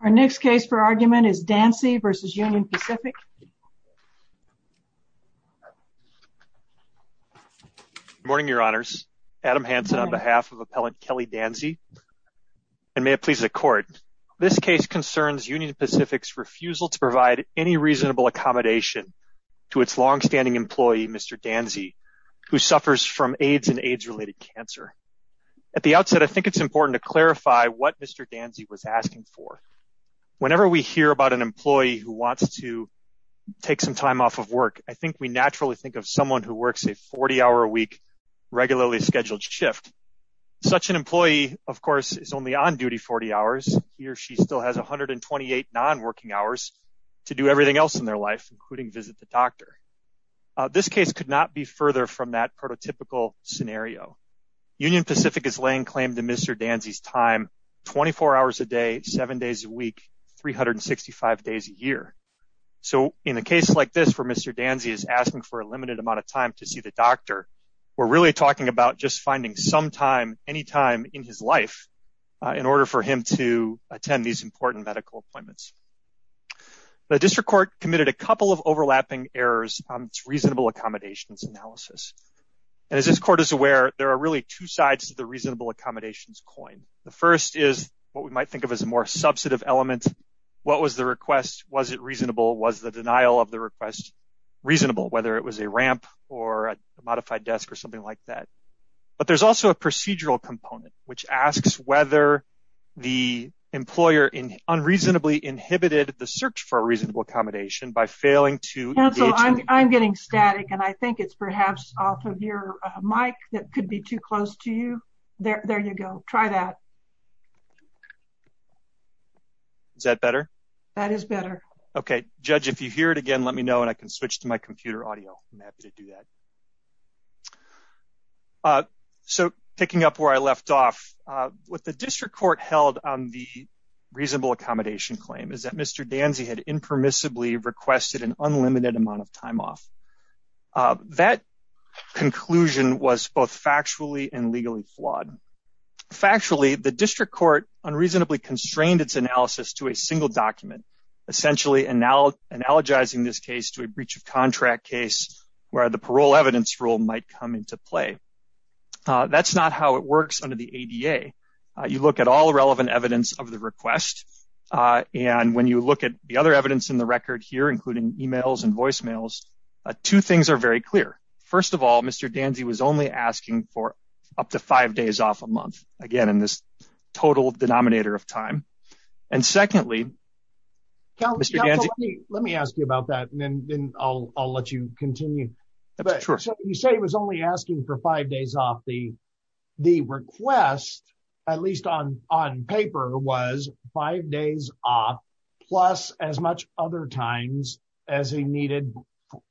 Our next case for argument is Dancy v. Union Pacific. Good morning, Your Honors. Adam Hanson on behalf of Appellant Kelly Dancy. And may it please the Court. This case concerns Union Pacific's refusal to provide any reasonable accommodation to its longstanding employee, Mr. Dancy, who suffers from AIDS and AIDS-related cancer. At the outset, I think it's important to clarify what Mr. Dancy was asking for. Whenever we hear about an employee who wants to take some time off of work, I think we naturally think of someone who works a 40-hour-a-week, regularly scheduled shift. Such an employee, of course, is only on duty 40 hours. He or she still has 128 non-working hours to do everything else in their life, including visit the doctor. This case could not be further from that prototypical scenario. Union Pacific is laying claim to Mr. Dancy's time 24 hours a day, seven days a week, 365 days a year. So in a case like this where Mr. Dancy is asking for a limited amount of time to see the doctor, we're really talking about just finding some time, any time in his life, in order for him to attend these important medical appointments. The District Court committed a couple of overlapping errors on its reasonable accommodations analysis. And as this Court is aware, there are really two sides to the reasonable accommodations coin. The first is what we might think of as a more substantive element. What was the request? Was it reasonable? Was the denial of the request reasonable, whether it was a ramp or a modified desk or something like that? But there's also a procedural component, which asks whether the employer unreasonably inhibited the search for a reasonable accommodation by failing to... Council, I'm getting static and I think it's perhaps off of your mic that could be too close to you. There you go. Try that. Is that better? That is better. Okay, Judge, if you hear it again, let me know and I can switch to my computer audio. I'm happy to do that. So picking up where I left off, what the District Court held on the reasonable accommodation claim is that Mr. Dancy had impermissibly requested an unlimited amount of time off. That conclusion was both factually and legally flawed. Factually, the District Court unreasonably constrained its analysis to a single document, essentially analogizing this case to a breach of contract case, where the parole evidence rule might come into play. That's not how it works under the ADA. You look at all relevant evidence of the request. And when you look at the other evidence in the record here, including emails and voicemails, two things are very clear. One, Mr. Dancy was only asking for five days off a month, again, in this total denominator of time. And secondly, Mr. Dancy, let me ask you about that and then I'll let you continue. You say he was only asking for five days off. The request, at least on paper, was five days off, plus as much other times as he needed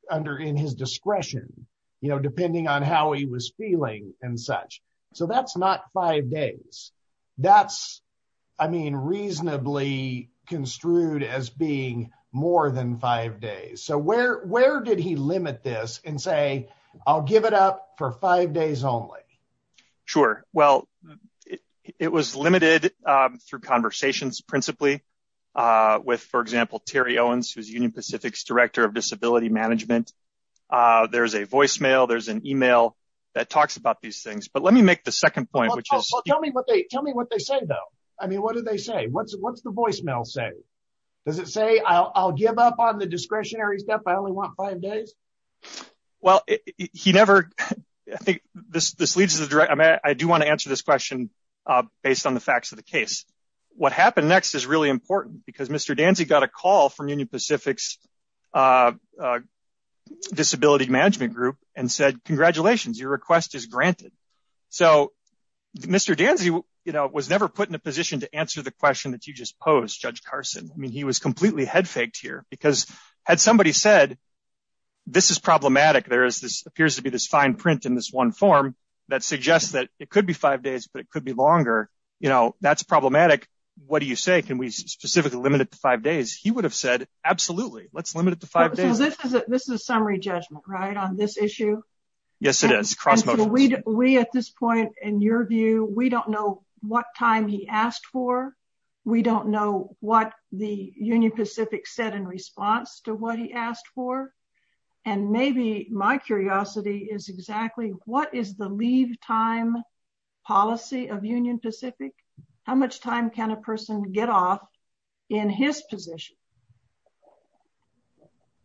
under in his discretion, you know, depending on how he was feeling and such. So that's not five days. That's, I mean, reasonably construed as being more than five days. So where did he limit this and say, I'll give it up for five days only? Sure. Well, it was limited through conversations principally, with, for example, Terry Owens, who's Union Pacific's Director of Disability Management. There's a voicemail, there's an email that talks about these things. But let me make the second point, which is... Well, tell me what they say, though. I mean, what do they say? What's the voicemail say? Does it say, I'll give up on the discretionary stuff, I only want five days? Well, he never... I think this leads to the direct... I do want to answer this question based on the facts of the case. What happened next is really important, because Mr. Danzy got a call from Union Pacific's Disability Management Group and said, congratulations, your request is granted. So Mr. Danzy, you know, was never put in a position to answer the question that you just posed, Judge Carson. I mean, he was completely head faked here, because had somebody said, this is problematic, there is this appears to be this fine print in this one form that suggests that it could be five days, but it is not. So what do you say? Can we specifically limit it to five days? He would have said, absolutely, let's limit it to five days. This is a summary judgment, right, on this issue? Yes, it is. Cross motions. We at this point, in your view, we don't know what time he asked for. We don't know what the Union Pacific said in response to what he asked for. And maybe my curiosity is exactly what is the leave time policy of Union Pacific? How much time can a person get off in his position?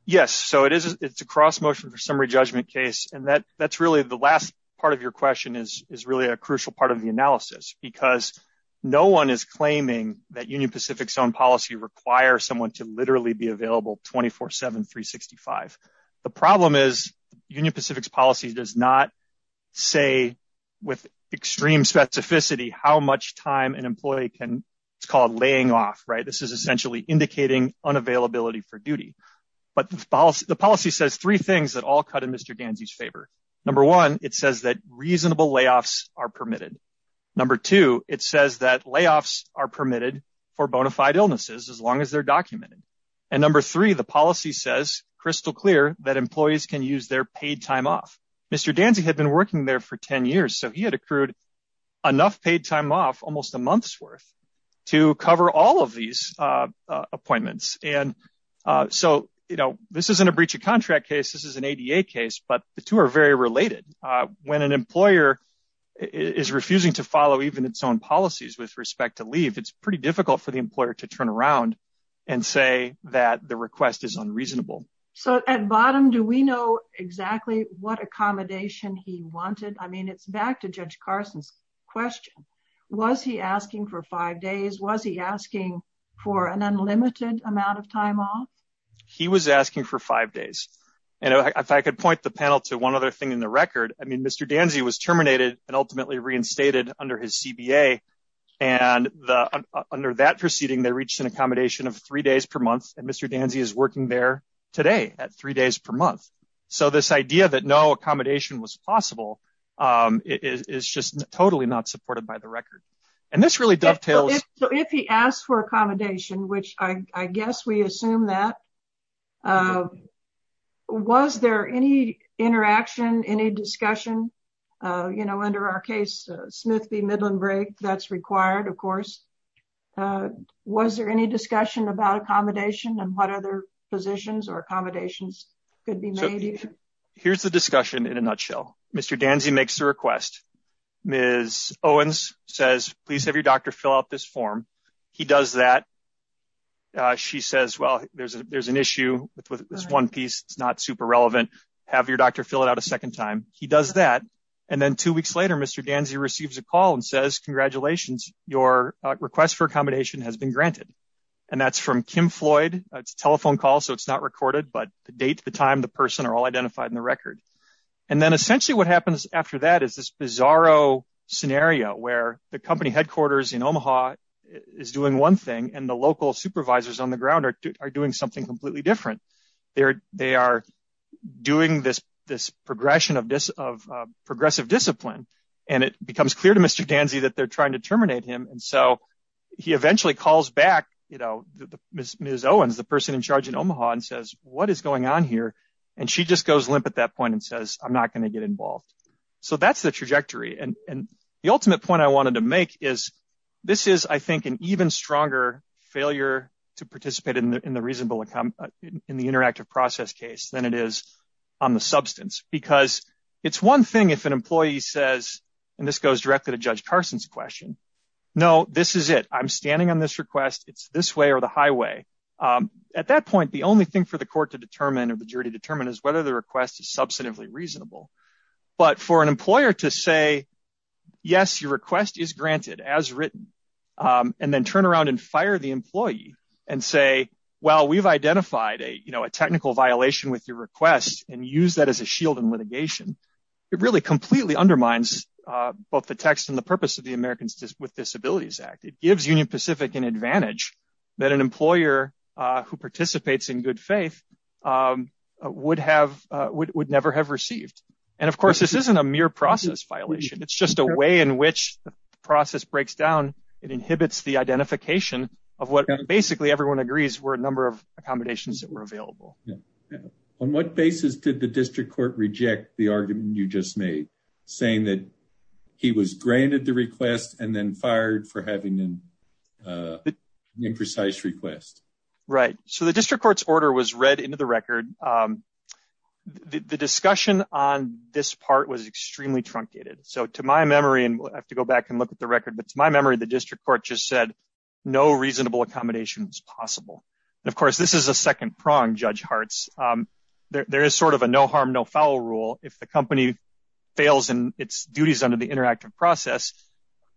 Yes, so it is, it's a cross motion for summary judgment case. And that that's really the last part of your question is, is really a crucial part of the analysis, because no one is claiming that Union Pacific's own policy requires someone to literally be available 24, 7365. The problem is, Union Pacific's policy does not say, with extreme specificity, how much time an employee can, it's called laying off, right? This is essentially indicating unavailability for duty. But the policy says three things that all cut in Mr. Gansey's favor. Number one, it says that reasonable layoffs are permitted. Number two, it says that layoffs are permitted for bona fide illnesses as long as they're documented. And number three, the policy says crystal clear that employees can use their paid time off. Mr. Gansey had been working there for 10 years. So he had accrued enough paid time off almost a month's worth to cover all of these appointments. And so you know, this isn't a breach of contract case, this is an ADA case, but the two are very related. When an employer is refusing to follow even its own policies with respect to leave, it's pretty difficult for the employer to turn around and say that the request is unreasonable. So at bottom, do we know exactly what accommodation he wanted? I mean, it's back to Judge Carson's question. Was he asking for five days? Was he asking for an unlimited amount of time off? He was asking for five days. And if I could point the panel to one other thing in the record, I mean, Mr. Gansey was terminated and ultimately reinstated under his CBA. And the under that proceeding, they reached an accommodation of three days per today at three days per month. So this idea that no accommodation was possible, is just totally not supported by the record. And this really dovetails. So if he asked for accommodation, which I guess we assume that was there any interaction, any discussion? You know, under our case, Smith v. Midland Brake, that's required, of course. Was there any discussion about accommodation and what other positions or accommodations could be made? Here's the discussion in a nutshell. Mr. Gansey makes a request. Ms. Owens says, please have your doctor fill out this form. He does that. She says, well, there's a there's an issue with this one piece, it's not super relevant. Have your doctor fill it out a second time. He does that. And then two weeks later, Mr. Gansey receives a call and says, congratulations, your request for accommodation has been granted. And that's from Kim Floyd. It's a telephone call. So it's not recorded. But the date, the time, the person are all identified in the record. And then essentially, what happens after that is this bizarro scenario where the company headquarters in Omaha is doing one thing and the local supervisors on the ground are doing something completely different. They are doing this progression of progressive discipline. And it becomes clear to Mr. Gansey that they're trying to terminate him. And so he eventually calls back, you know, Ms. Owens, the person in charge in Omaha and says, what is going on here? And she just goes limp at that point and says, I'm not going to get involved. So that's the trajectory. And the ultimate point I wanted to make is, this is, I think, an even stronger failure to participate in the reasonable in the interactive process case than it is on the substance. Because it's one thing if an employee says, and this goes directly to Judge Carson's question. No, this is it. I'm standing on this request. It's this way or the highway. At that point, the only thing for the court to determine or the jury to determine is whether the request is substantively reasonable. But for an employer to say, yes, your request is granted as written, and then turn around and fire the employee and say, well, we've identified a, you know, a technical violation with your request and use that as a shield and litigation. It really completely undermines both the text and the purpose of the Americans with Disabilities Act. It gives Union Pacific an advantage that an employer who participates in good faith would have would never have received. And of course, this isn't a mere process violation. It's just a way in which the process breaks down. It inhibits the identification of what basically everyone agrees were a number of accommodations that were available. On what basis did the district court reject the argument you just made, saying that he was granted the request and then the imprecise request, right? So the district court's order was read into the record. The discussion on this part was extremely truncated. So to my memory, and I have to go back and look at the record, but to my memory, the district court just said, no reasonable accommodations possible. And of course, this is a second prong Judge hearts. There is sort of a no harm, no foul rule if the company fails in its duties under the interactive process,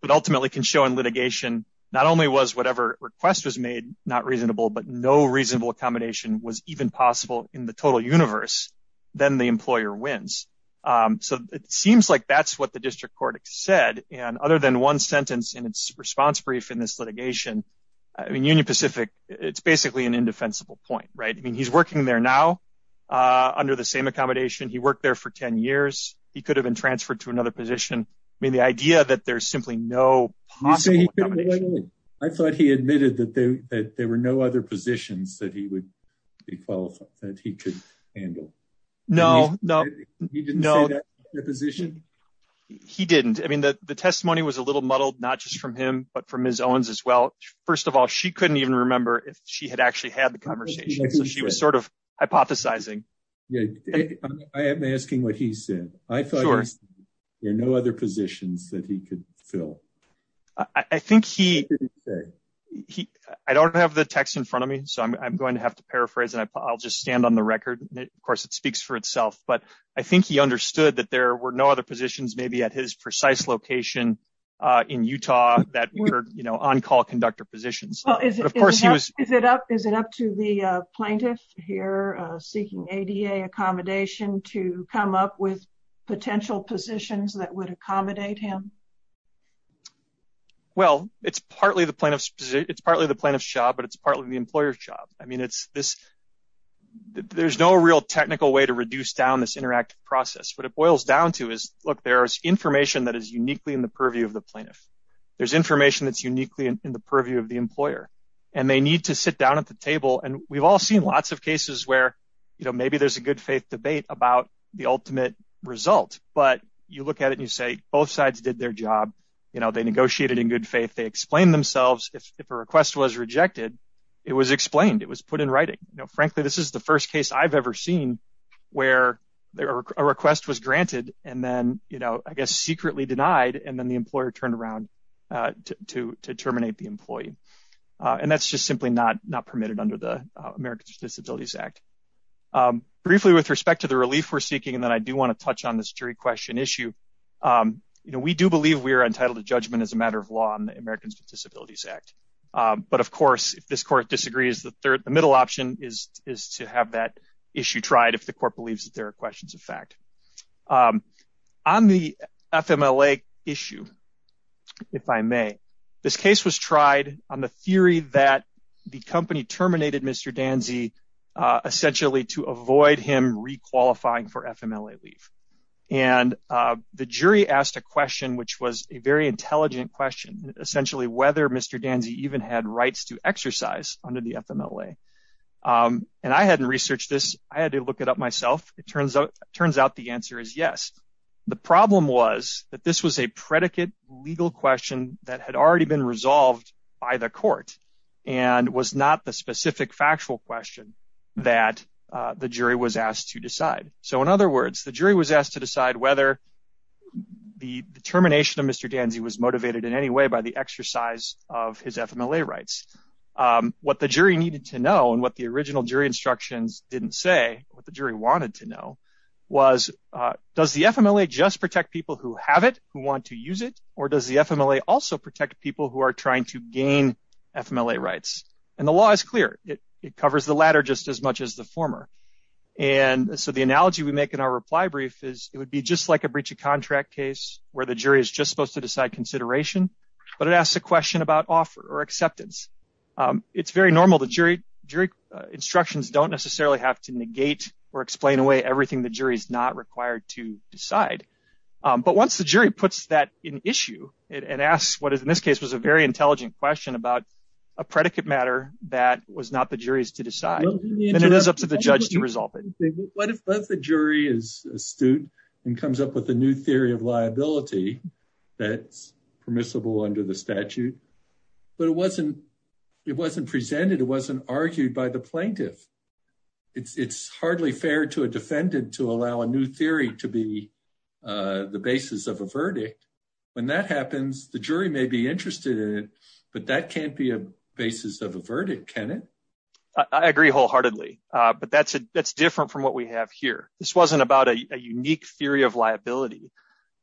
but ultimately can show in not only was whatever request was made, not reasonable, but no reasonable accommodation was even possible in the total universe, then the employer wins. So it seems like that's what the district court said. And other than one sentence in its response brief in this litigation, I mean, Union Pacific, it's basically an indefensible point, right? I mean, he's working there now. Under the same accommodation, he worked there for 10 years, he could have been transferred to another position. I mean, the idea that there's simply no possible. I thought he admitted that there were no other positions that he would be qualified that he could handle. No, no, no position. He didn't. I mean, that the testimony was a little muddled, not just from him, but from his own as well. First of all, she couldn't even remember if she had actually had the conversation. So she was sort of hypothesizing. Yeah, I am asking what he said. I thought there are no other positions that he could fill. I think he he I don't have the text in front of me. So I'm going to have to paraphrase and I'll just stand on the record. Of course, it speaks for itself. But I think he understood that there were no other positions maybe at his precise location in Utah that were, you know, on call conductor positions. Of course, he was is it up? Is it up to the plaintiff here seeking ADA accommodation to come up with potential positions that would accommodate him? Well, it's partly the plaintiff's. It's partly the plaintiff's job, but it's partly the employer's job. I mean, it's this. There's no real technical way to reduce down this interactive process. What it boils down to is, look, there's information that is uniquely in the purview of the plaintiff. There's information that's uniquely in the purview of the employer, and they need to sit down at the table. And we've all seen lots of cases where, you know, maybe there's a good faith debate about the ultimate result, but you look at it and you say both sides did their job. You know, they negotiated in good faith. They explained themselves. If a request was rejected, it was explained. It was put in writing. You know, frankly, this is the first case I've ever seen where a request was granted and then, you know, I guess secretly denied and then the employer turned around to terminate the employee. And that's just simply not permitted under the American Disabilities Act. Briefly, with respect to the relief we're seeking, and then I do want to touch on this jury question issue. You know, we do believe we are entitled to judgment as a matter of law on the Americans with Disabilities Act. But of course, if this court disagrees, the middle option is to have that issue tried if the court believes that there are questions of fact. On the FMLA issue, if I may, this case was tried on the theory that the company terminated Mr. Danzy essentially to avoid him requalifying for FMLA leave. And the jury asked a question, which was a very intelligent question, essentially whether Mr. Danzy even had rights to exercise under the FMLA. And I hadn't researched this. I had to look it up myself. It turns out the answer is yes. The problem was that this was a predicate legal question that had already been resolved by the court, and was not the specific factual question that the jury was asked to decide. So in other words, the jury was asked to decide whether the termination of Mr. Danzy was motivated in any way by the exercise of his FMLA rights. What the jury needed to know and what the original jury instructions didn't say, what the jury wanted to know, was, does the FMLA just protect people who have it, who want to use it, or does the FMLA also protect people who are trying to gain FMLA rights? And the law is clear. It covers the latter just as much as the former. And so the analogy we make in our reply brief is it would be just like a breach of contract case where the jury is just supposed to decide consideration, but it asks a question about offer or acceptance. It's very normal. The jury instructions don't necessarily have to negate or explain away everything the jury is not required to decide. But once the jury puts that in issue and asks what is in this case was a very intelligent question about a predicate matter that was not the jury's to decide, then it is up to the judge to resolve it. What if the jury is astute and comes up with a new theory of liability that's permissible under the statute, but it wasn't, it wasn't presented, it wasn't argued by the plaintiff. It's hardly fair to a defendant to allow a new theory to be the basis of a verdict. When that happens, the jury may be interested in it. But that can't be a basis of a verdict, can it? I agree wholeheartedly. But that's it. That's different from what we have here. This wasn't about a unique theory of liability.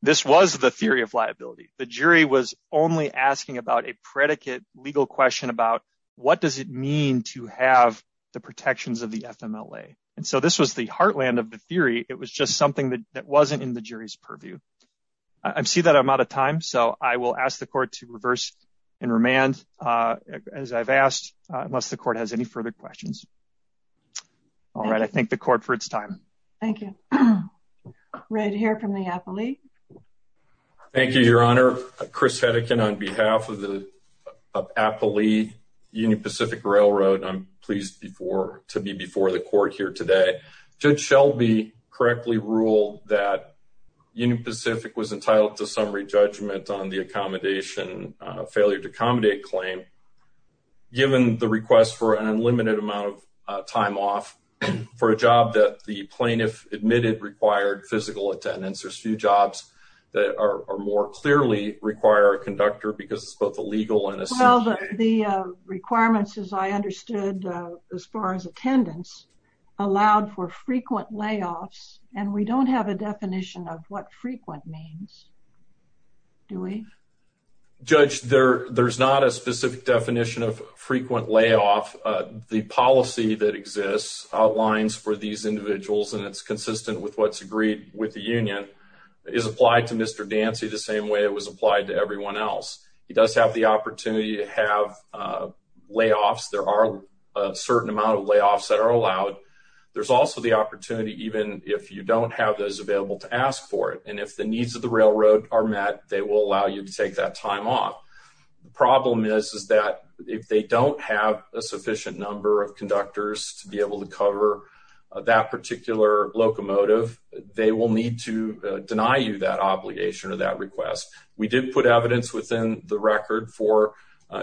This was the theory of liability. The jury was only asking about a predicate legal question about what does it mean to have the protections of the FMLA. And so this was the heartland of the theory, it was just something that wasn't in the jury's purview. I see that I'm out of time. So I will ask the court to reverse and remand, as I've asked, unless the court has any further questions. All right, I thank the court for its time. Thank you. Right here from the Appalachee. Thank you, Your Honor. Chris Hedekin on behalf of the Appalachee Union Pacific Railroad. I'm pleased before to be before the court here today. Judge Shelby correctly ruled that Union Pacific was entitled to summary judgment on the accommodation failure to accommodate claim. Given the request for an unlimited amount of time off for a job that the plaintiff admitted required physical attendance, there's few jobs that are more clearly require a conductor because it's a legal and the requirements as I understood, as far as attendance, allowed for frequent layoffs, and we don't have a definition of what frequent means. Do we? Judge there, there's not a specific definition of frequent layoff. The policy that exists outlines for these individuals, and it's consistent with what's agreed with the union is applied to Mr. Dancy the same way it was applied to everyone else. He does have the opportunity to have layoffs. There are a certain amount of layoffs that are allowed. There's also the opportunity even if you don't have those available to ask for it. And if the needs of the railroad are met, they will allow you to take that time off. The problem is, is that if they don't have a sufficient number of conductors to be able to cover that particular locomotive, they will need to deny you that obligation or that request. We did put evidence within the record for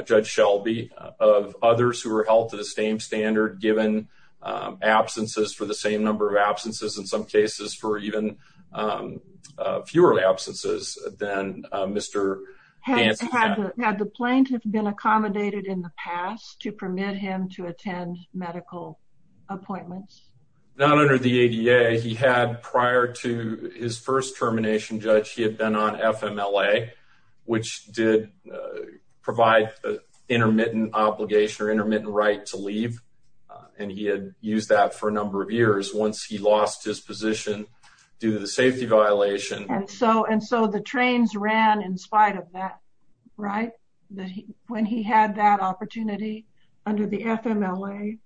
Judge Shelby of others who are held to the same standard given absences for the same number of absences in some cases for even fewer absences than Mr. Dancy had. Had the plaintiff been accommodated in the past to permit him to attend medical appointments? Not under the ADA. He had prior to his first termination, Judge, he had been on FMLA, which did provide the intermittent obligation or intermittent right to leave. And he had used that for a number of years once he lost his position due to the safety violation. And so the trains ran in spite of that, right? When he had that opportunity under the FMLA?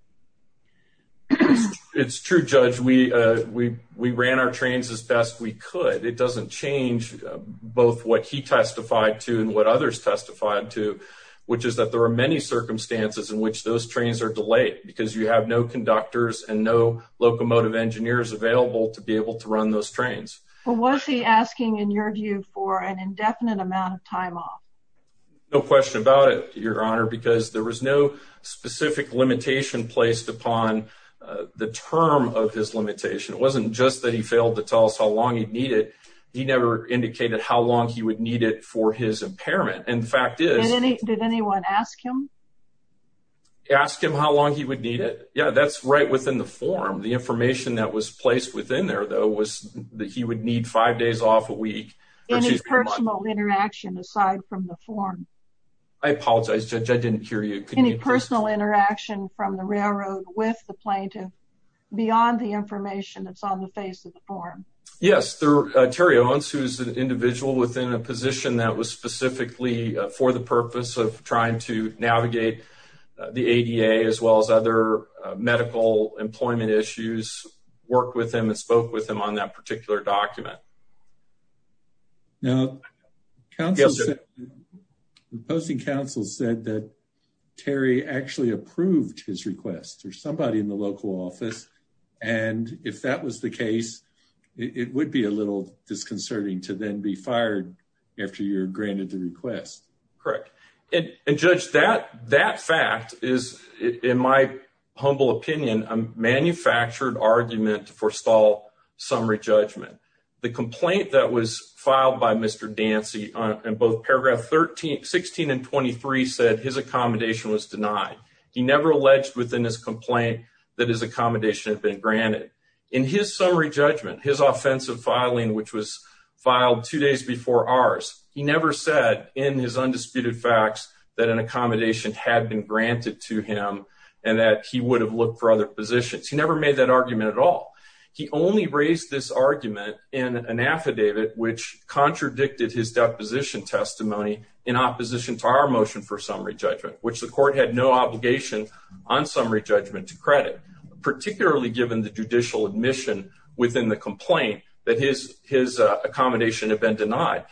It's true, Judge. We ran our trains as best we could. It doesn't change both what he testified to and what others testified to, which is that there are many circumstances in which those trains are delayed because you have no conductors and no locomotive engineers available to be able to run those trains. Well, was he asking, in your view, for an indefinite amount of time off? No question about it, Your Honor, because there was no specific limitation placed upon the term of his limitation. It never indicated how long he would need it for his impairment. And the fact is... Did anyone ask him? Ask him how long he would need it? Yeah, that's right within the form. The information that was placed within there, though, was that he would need five days off a week. Any personal interaction aside from the form? I apologize, Judge, I didn't hear you. Any personal interaction from the railroad with the plaintiff beyond the information that's on the face of the form? Yes, Terry Owens, who's an individual within a position that was specifically for the purpose of trying to navigate the ADA as well as other medical employment issues, worked with him and spoke with him on that particular document. Now, the opposing counsel said that Terry actually approved his request or somebody in the local office. And if that was the case, it would be a little disconcerting to then be fired after you're granted the request. Correct. And Judge, that fact is, in my humble opinion, a manufactured argument to forestall summary judgment. The complaint that was filed by Mr. Dancy in both paragraph 16 and 23 said his accommodation was denied. He never alleged within his complaint that his accommodation had been granted. In his summary judgment, his offensive filing, which was filed two days before ours, he never said in his undisputed facts that an accommodation had been granted to him and that he would have looked for other positions. He never made that argument at all. He only raised this argument in an affidavit, which contradicted his deposition testimony in opposition to our motion for summary judgment, which the court had no obligation on summary judgment to credit, particularly given the judicial admission within the complaint that his accommodation had been denied.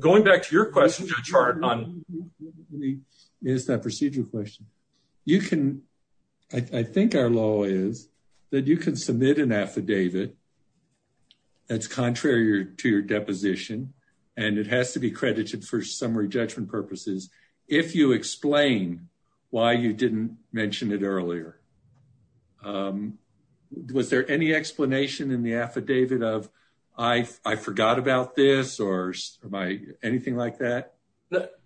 Going back to your question, Judge Hart, on... Yes, that procedural question. I think our law is that you can submit an affidavit that's contrary to your deposition, and it has to be credited for summary judgment purposes if you why you didn't mention it earlier. Was there any explanation in the affidavit of, I forgot about this or anything like that?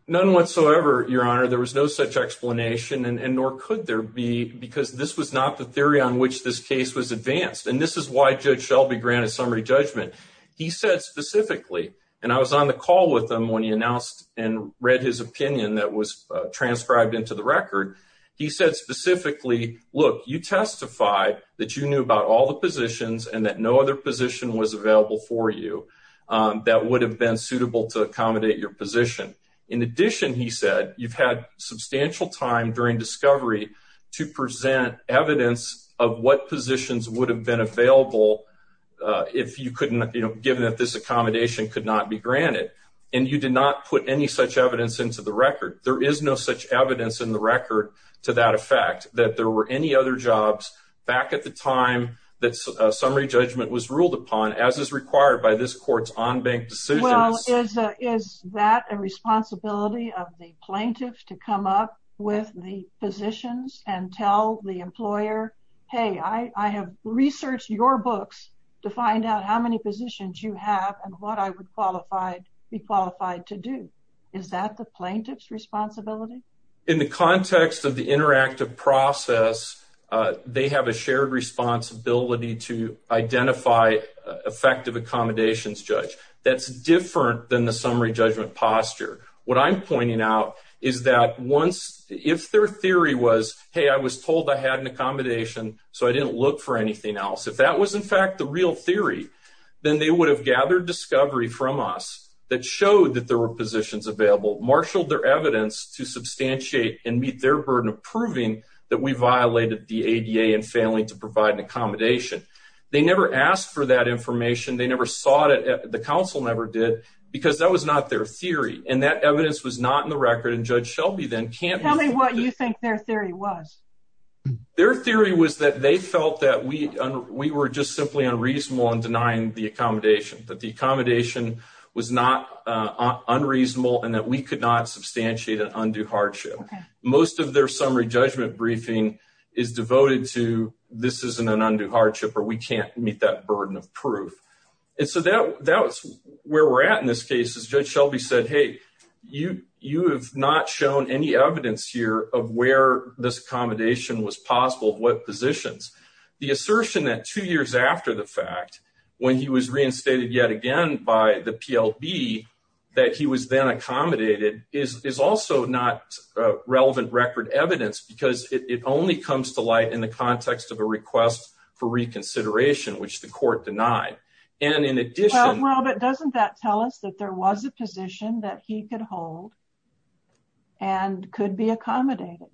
None whatsoever, Your Honor. There was no such explanation and nor could there be because this was not the theory on which this case was advanced. And this is why Judge Shelby granted summary judgment. He said specifically, and I was on the call with him when he announced and read his opinion that was transcribed into the record, he said specifically, look, you testified that you knew about all the positions and that no other position was available for you that would have been suitable to accommodate your position. In addition, he said, you've had substantial time during discovery to present evidence of what positions would have been available if you couldn't, you know, given that this accommodation could not be granted. And you did not put any such evidence into the record. There is no such evidence in the record, to that effect that there were any other jobs back at the time that summary judgment was ruled upon as is required by this court's on bank decisions. Is that a responsibility of the plaintiff to come up with the positions and tell the employer, hey, I have researched your books to find out how many positions you have and what I would be qualified to do. Is that the plaintiff's responsibility? In the context of the interactive process, they have a shared responsibility to identify effective accommodations, Judge, that's different than the summary judgment posture. What I'm pointing out is that once if their theory was, hey, I was told I had an accommodation. So I didn't look for anything else. If that was in fact the real theory, then they would have gathered discovery from us that showed that there were positions available, marshaled their evidence to substantiate and meet their burden of proving that we violated the ADA and failing to provide an accommodation. They never asked for that information. They never sought it. The council never did, because that was not their theory. And that evidence was not in the record. And Judge Shelby then can't tell me what you think their theory was. Their theory was that they felt that we we were just simply unreasonable and denying the accommodation that the accommodation was not unreasonable and that we could not substantiate an undue hardship. Most of their summary judgment briefing is devoted to this isn't an undue hardship or we can't meet that burden of proof. And so that that's where we're at in this case is Judge Shelby said, hey, you you have not shown any evidence here of where this accommodation was possible, what positions, the assertion that two years after the fact, when he was reinstated yet again by the PLB, that he was then accommodated is also not relevant record evidence because it only comes to light in the context of a request for reconsideration, which the court denied. And in addition, well, but doesn't that tell us that there was a position that he could hold and could be accommodated?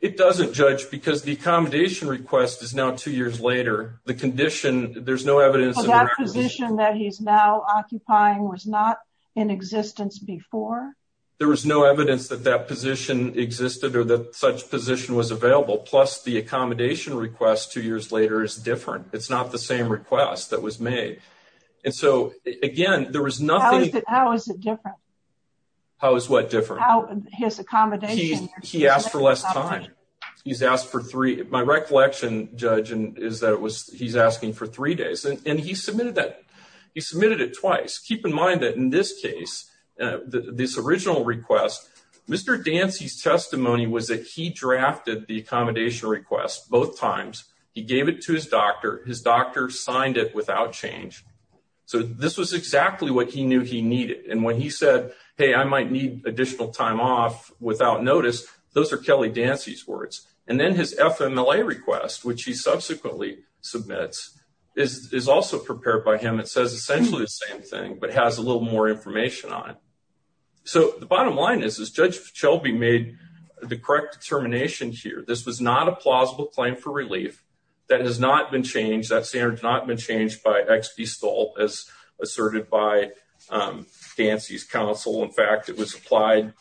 It doesn't judge because the accommodation request is now two years later, the condition, there's no evidence of position that he's now occupying was not in existence before. There was no evidence that that position existed or that such position was available. Plus, the accommodation request two years later is different. It's not the same request that was made. And so again, there was nothing. How is it different? How is what different? His accommodation? He asked for less time. He's asked for three my recollection judge and is that he's asking for three days and he submitted that he submitted it twice. Keep in mind that in this case, this original request, Mr. Dancy's testimony was that he drafted the accommodation request both times. He gave it to his doctor, his doctor signed it without change. So this was exactly what he knew he needed. And when he said, hey, I might need additional time off without notice. Those are Kelly Dancy's And then his FMLA request, which he subsequently submits, is also prepared by him. It says essentially the same thing, but has a little more information on it. So the bottom line is, is Judge Shelby made the correct determination here. This was not a plausible claim for relief. That has not been changed. That standard has not been changed by XB Stolt as asserted by Dancy's counsel. In fact, it was applied.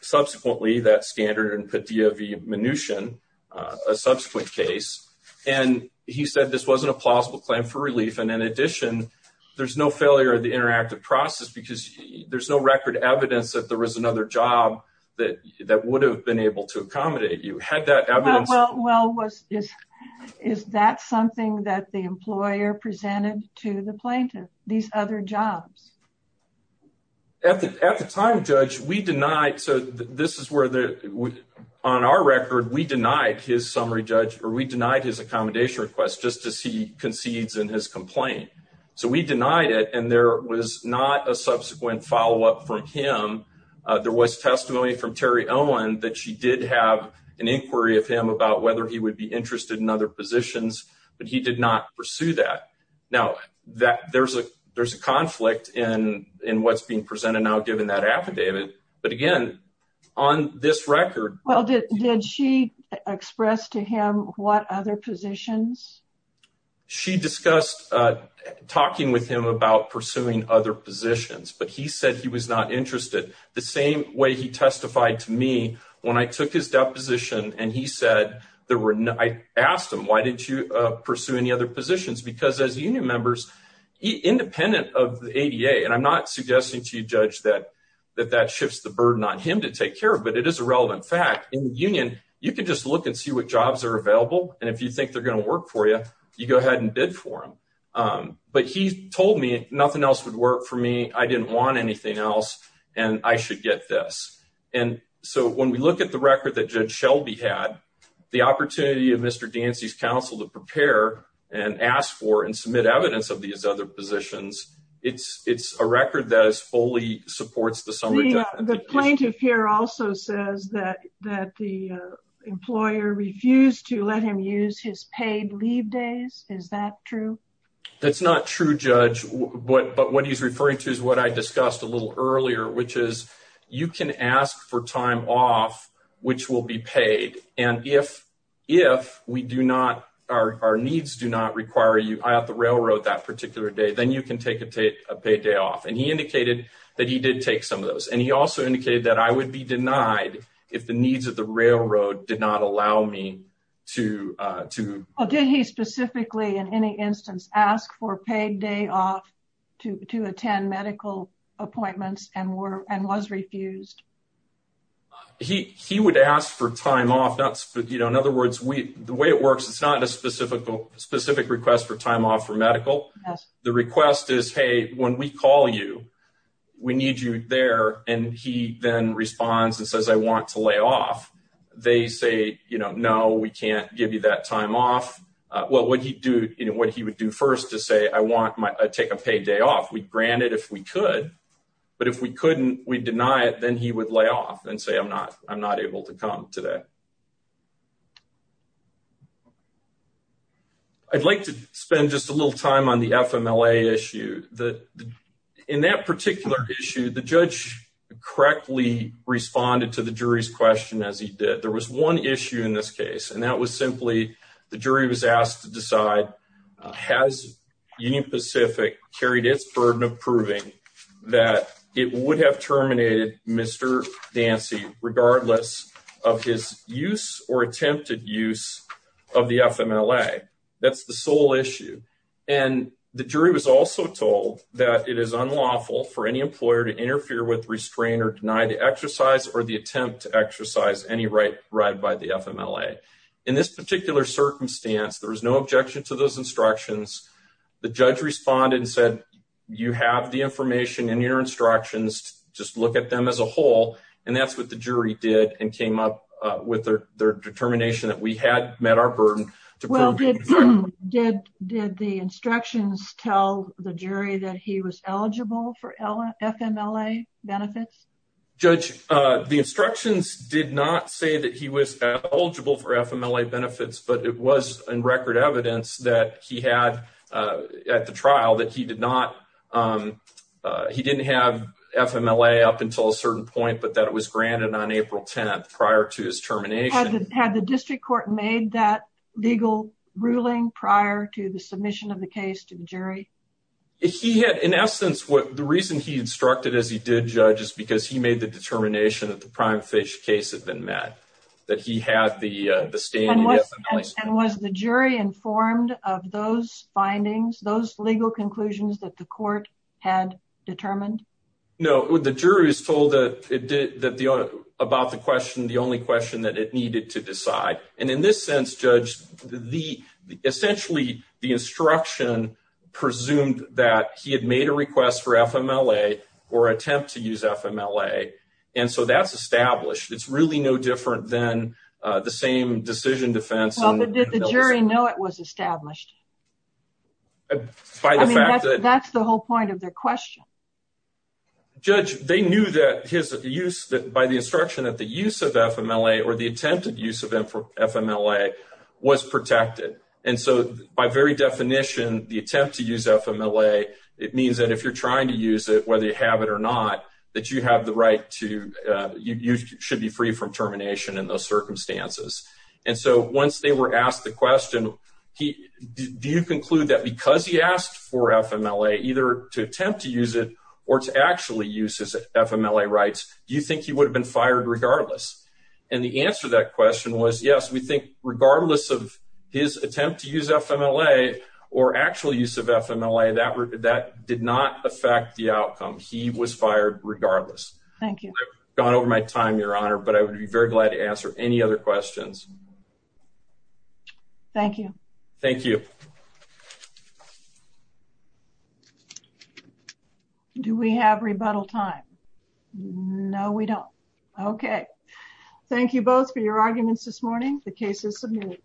Subsequently, that standard and put DOV Mnuchin, a subsequent case. And he said, this wasn't a plausible claim for relief. And in addition, there's no failure of the interactive process because there's no record evidence that there was another job that that would have been able to accommodate you had that evidence. Well, was this, is that something that the employer presented to the plaintiff, these other jobs? At the time, Judge, we denied. So this is where, on our record, we denied his summary judge, or we denied his accommodation request just to see concedes in his complaint. So we denied it. And there was not a subsequent follow up from him. There was testimony from Terry Owen that she did have an inquiry of him about whether he would be interested in other positions, but he did not pursue that. Now that there's a conflict in in what's being presented now given that affidavit. But again, on this record, well, did she express to him what other positions? She discussed talking with him about pursuing other positions, but he said he was not interested. The same way he testified to me, when I took his deposition, and he said there were no, I asked him, why did you pursue any other positions? Because as union members, independent of the ADA, and I'm not suggesting to you, Judge, that that shifts the burden on him to take care of, but it is a relevant fact in the union, you can just look and see what jobs are available. And if you think they're going to work for you, you go ahead and bid for them. But he told me nothing else would work for me. I didn't want anything else. And I should get this. And so when we look at the record that Judge Shelby had, the opportunity of Mr. Dancy's to prepare and ask for and submit evidence of these other positions. It's it's a record that is fully supports the summary. The plaintiff here also says that that the employer refused to let him use his paid leave days. Is that true? That's not true, Judge. But what he's referring to is what I discussed a little earlier, which is, you can ask for time off, which will be paid. And if, if we do not, our needs do not require you at the railroad that particular day, then you can take a paid day off. And he indicated that he did take some of those. And he also indicated that I would be denied if the needs of the railroad did not allow me to, to or did he specifically in any instance, ask for paid day off to attend medical appointments and were and was refused? He he would ask for time off. That's, you know, in other words, we the way it works, it's not a specific specific request for time off for medical. The request is, hey, when we call you, we need you there. And he then responds and says, I want to lay off. They say, you know, no, we can't give you that time off. Well, what he do, you know, what he would do first to say, I want my take a paid day off, we granted if we could. But if we couldn't, we deny it, then he would lay off and say, I'm not I'm not able to come today. I'd like to spend just a little time on the FMLA issue that in that particular issue, the judge correctly responded to the jury's question as he did, there was one issue in this case. And that was simply the jury was asked to decide, has Union Pacific carried its burden of proving that it would have terminated Mr. Dancy, regardless of his use or attempted use of the FMLA. That's the sole issue. And the jury was also told that it is unlawful for any employer to interfere with restrain or deny the exercise or the attempt to exercise any right right by the FMLA. In this particular circumstance, there was no objection to those instructions. The judge responded and said, you have the information in your instructions, just look at them as a whole. And that's what the jury did and came up with their their determination that we had met our burden. Well, did the instructions tell the jury that he was eligible for FMLA benefits? Judge, the instructions did not say that he was eligible for FMLA benefits, but it was in record evidence that he had at the trial that he did not. He didn't have FMLA up until a certain point, but that it was granted on April 10th prior to his termination. Had the district court made that legal ruling prior to the submission of the case to the jury? He had in essence what the reason he instructed as he did judge is because he made the determination that the Prime Fish case had been met, that he had the the stand. And was the jury informed of those findings, those legal conclusions that the court had determined? No, the jury is told that it did that the about the question, the only question that it needed to decide. And in this sense, Judge, the essentially the instruction presumed that he had made a request for FMLA or attempt to use FMLA. And so that's established. It's really no different than the same decision defense on the jury. No, it was established by the fact that that's the whole point of their question. Judge, they knew that his use that by the instruction that the use of FMLA or the attempted use of FMLA was protected. And so by very definition, the attempt to use FMLA, it means that if you're trying to use it, whether you have it or not, that you have the right to you should be free from termination in those once they were asked the question, he do you conclude that because he asked for FMLA either to attempt to use it, or to actually use his FMLA rights? Do you think he would have been fired regardless? And the answer to that question was yes, we think regardless of his attempt to use FMLA, or actual use of FMLA, that that did not affect the outcome. He was fired regardless. Thank you gone over my time, Your Honor, but I would be very glad to answer any other questions. Thank you. Thank you. Do we have rebuttal time? No, we don't. Okay. Thank you both for your arguments this morning. The case is submitted.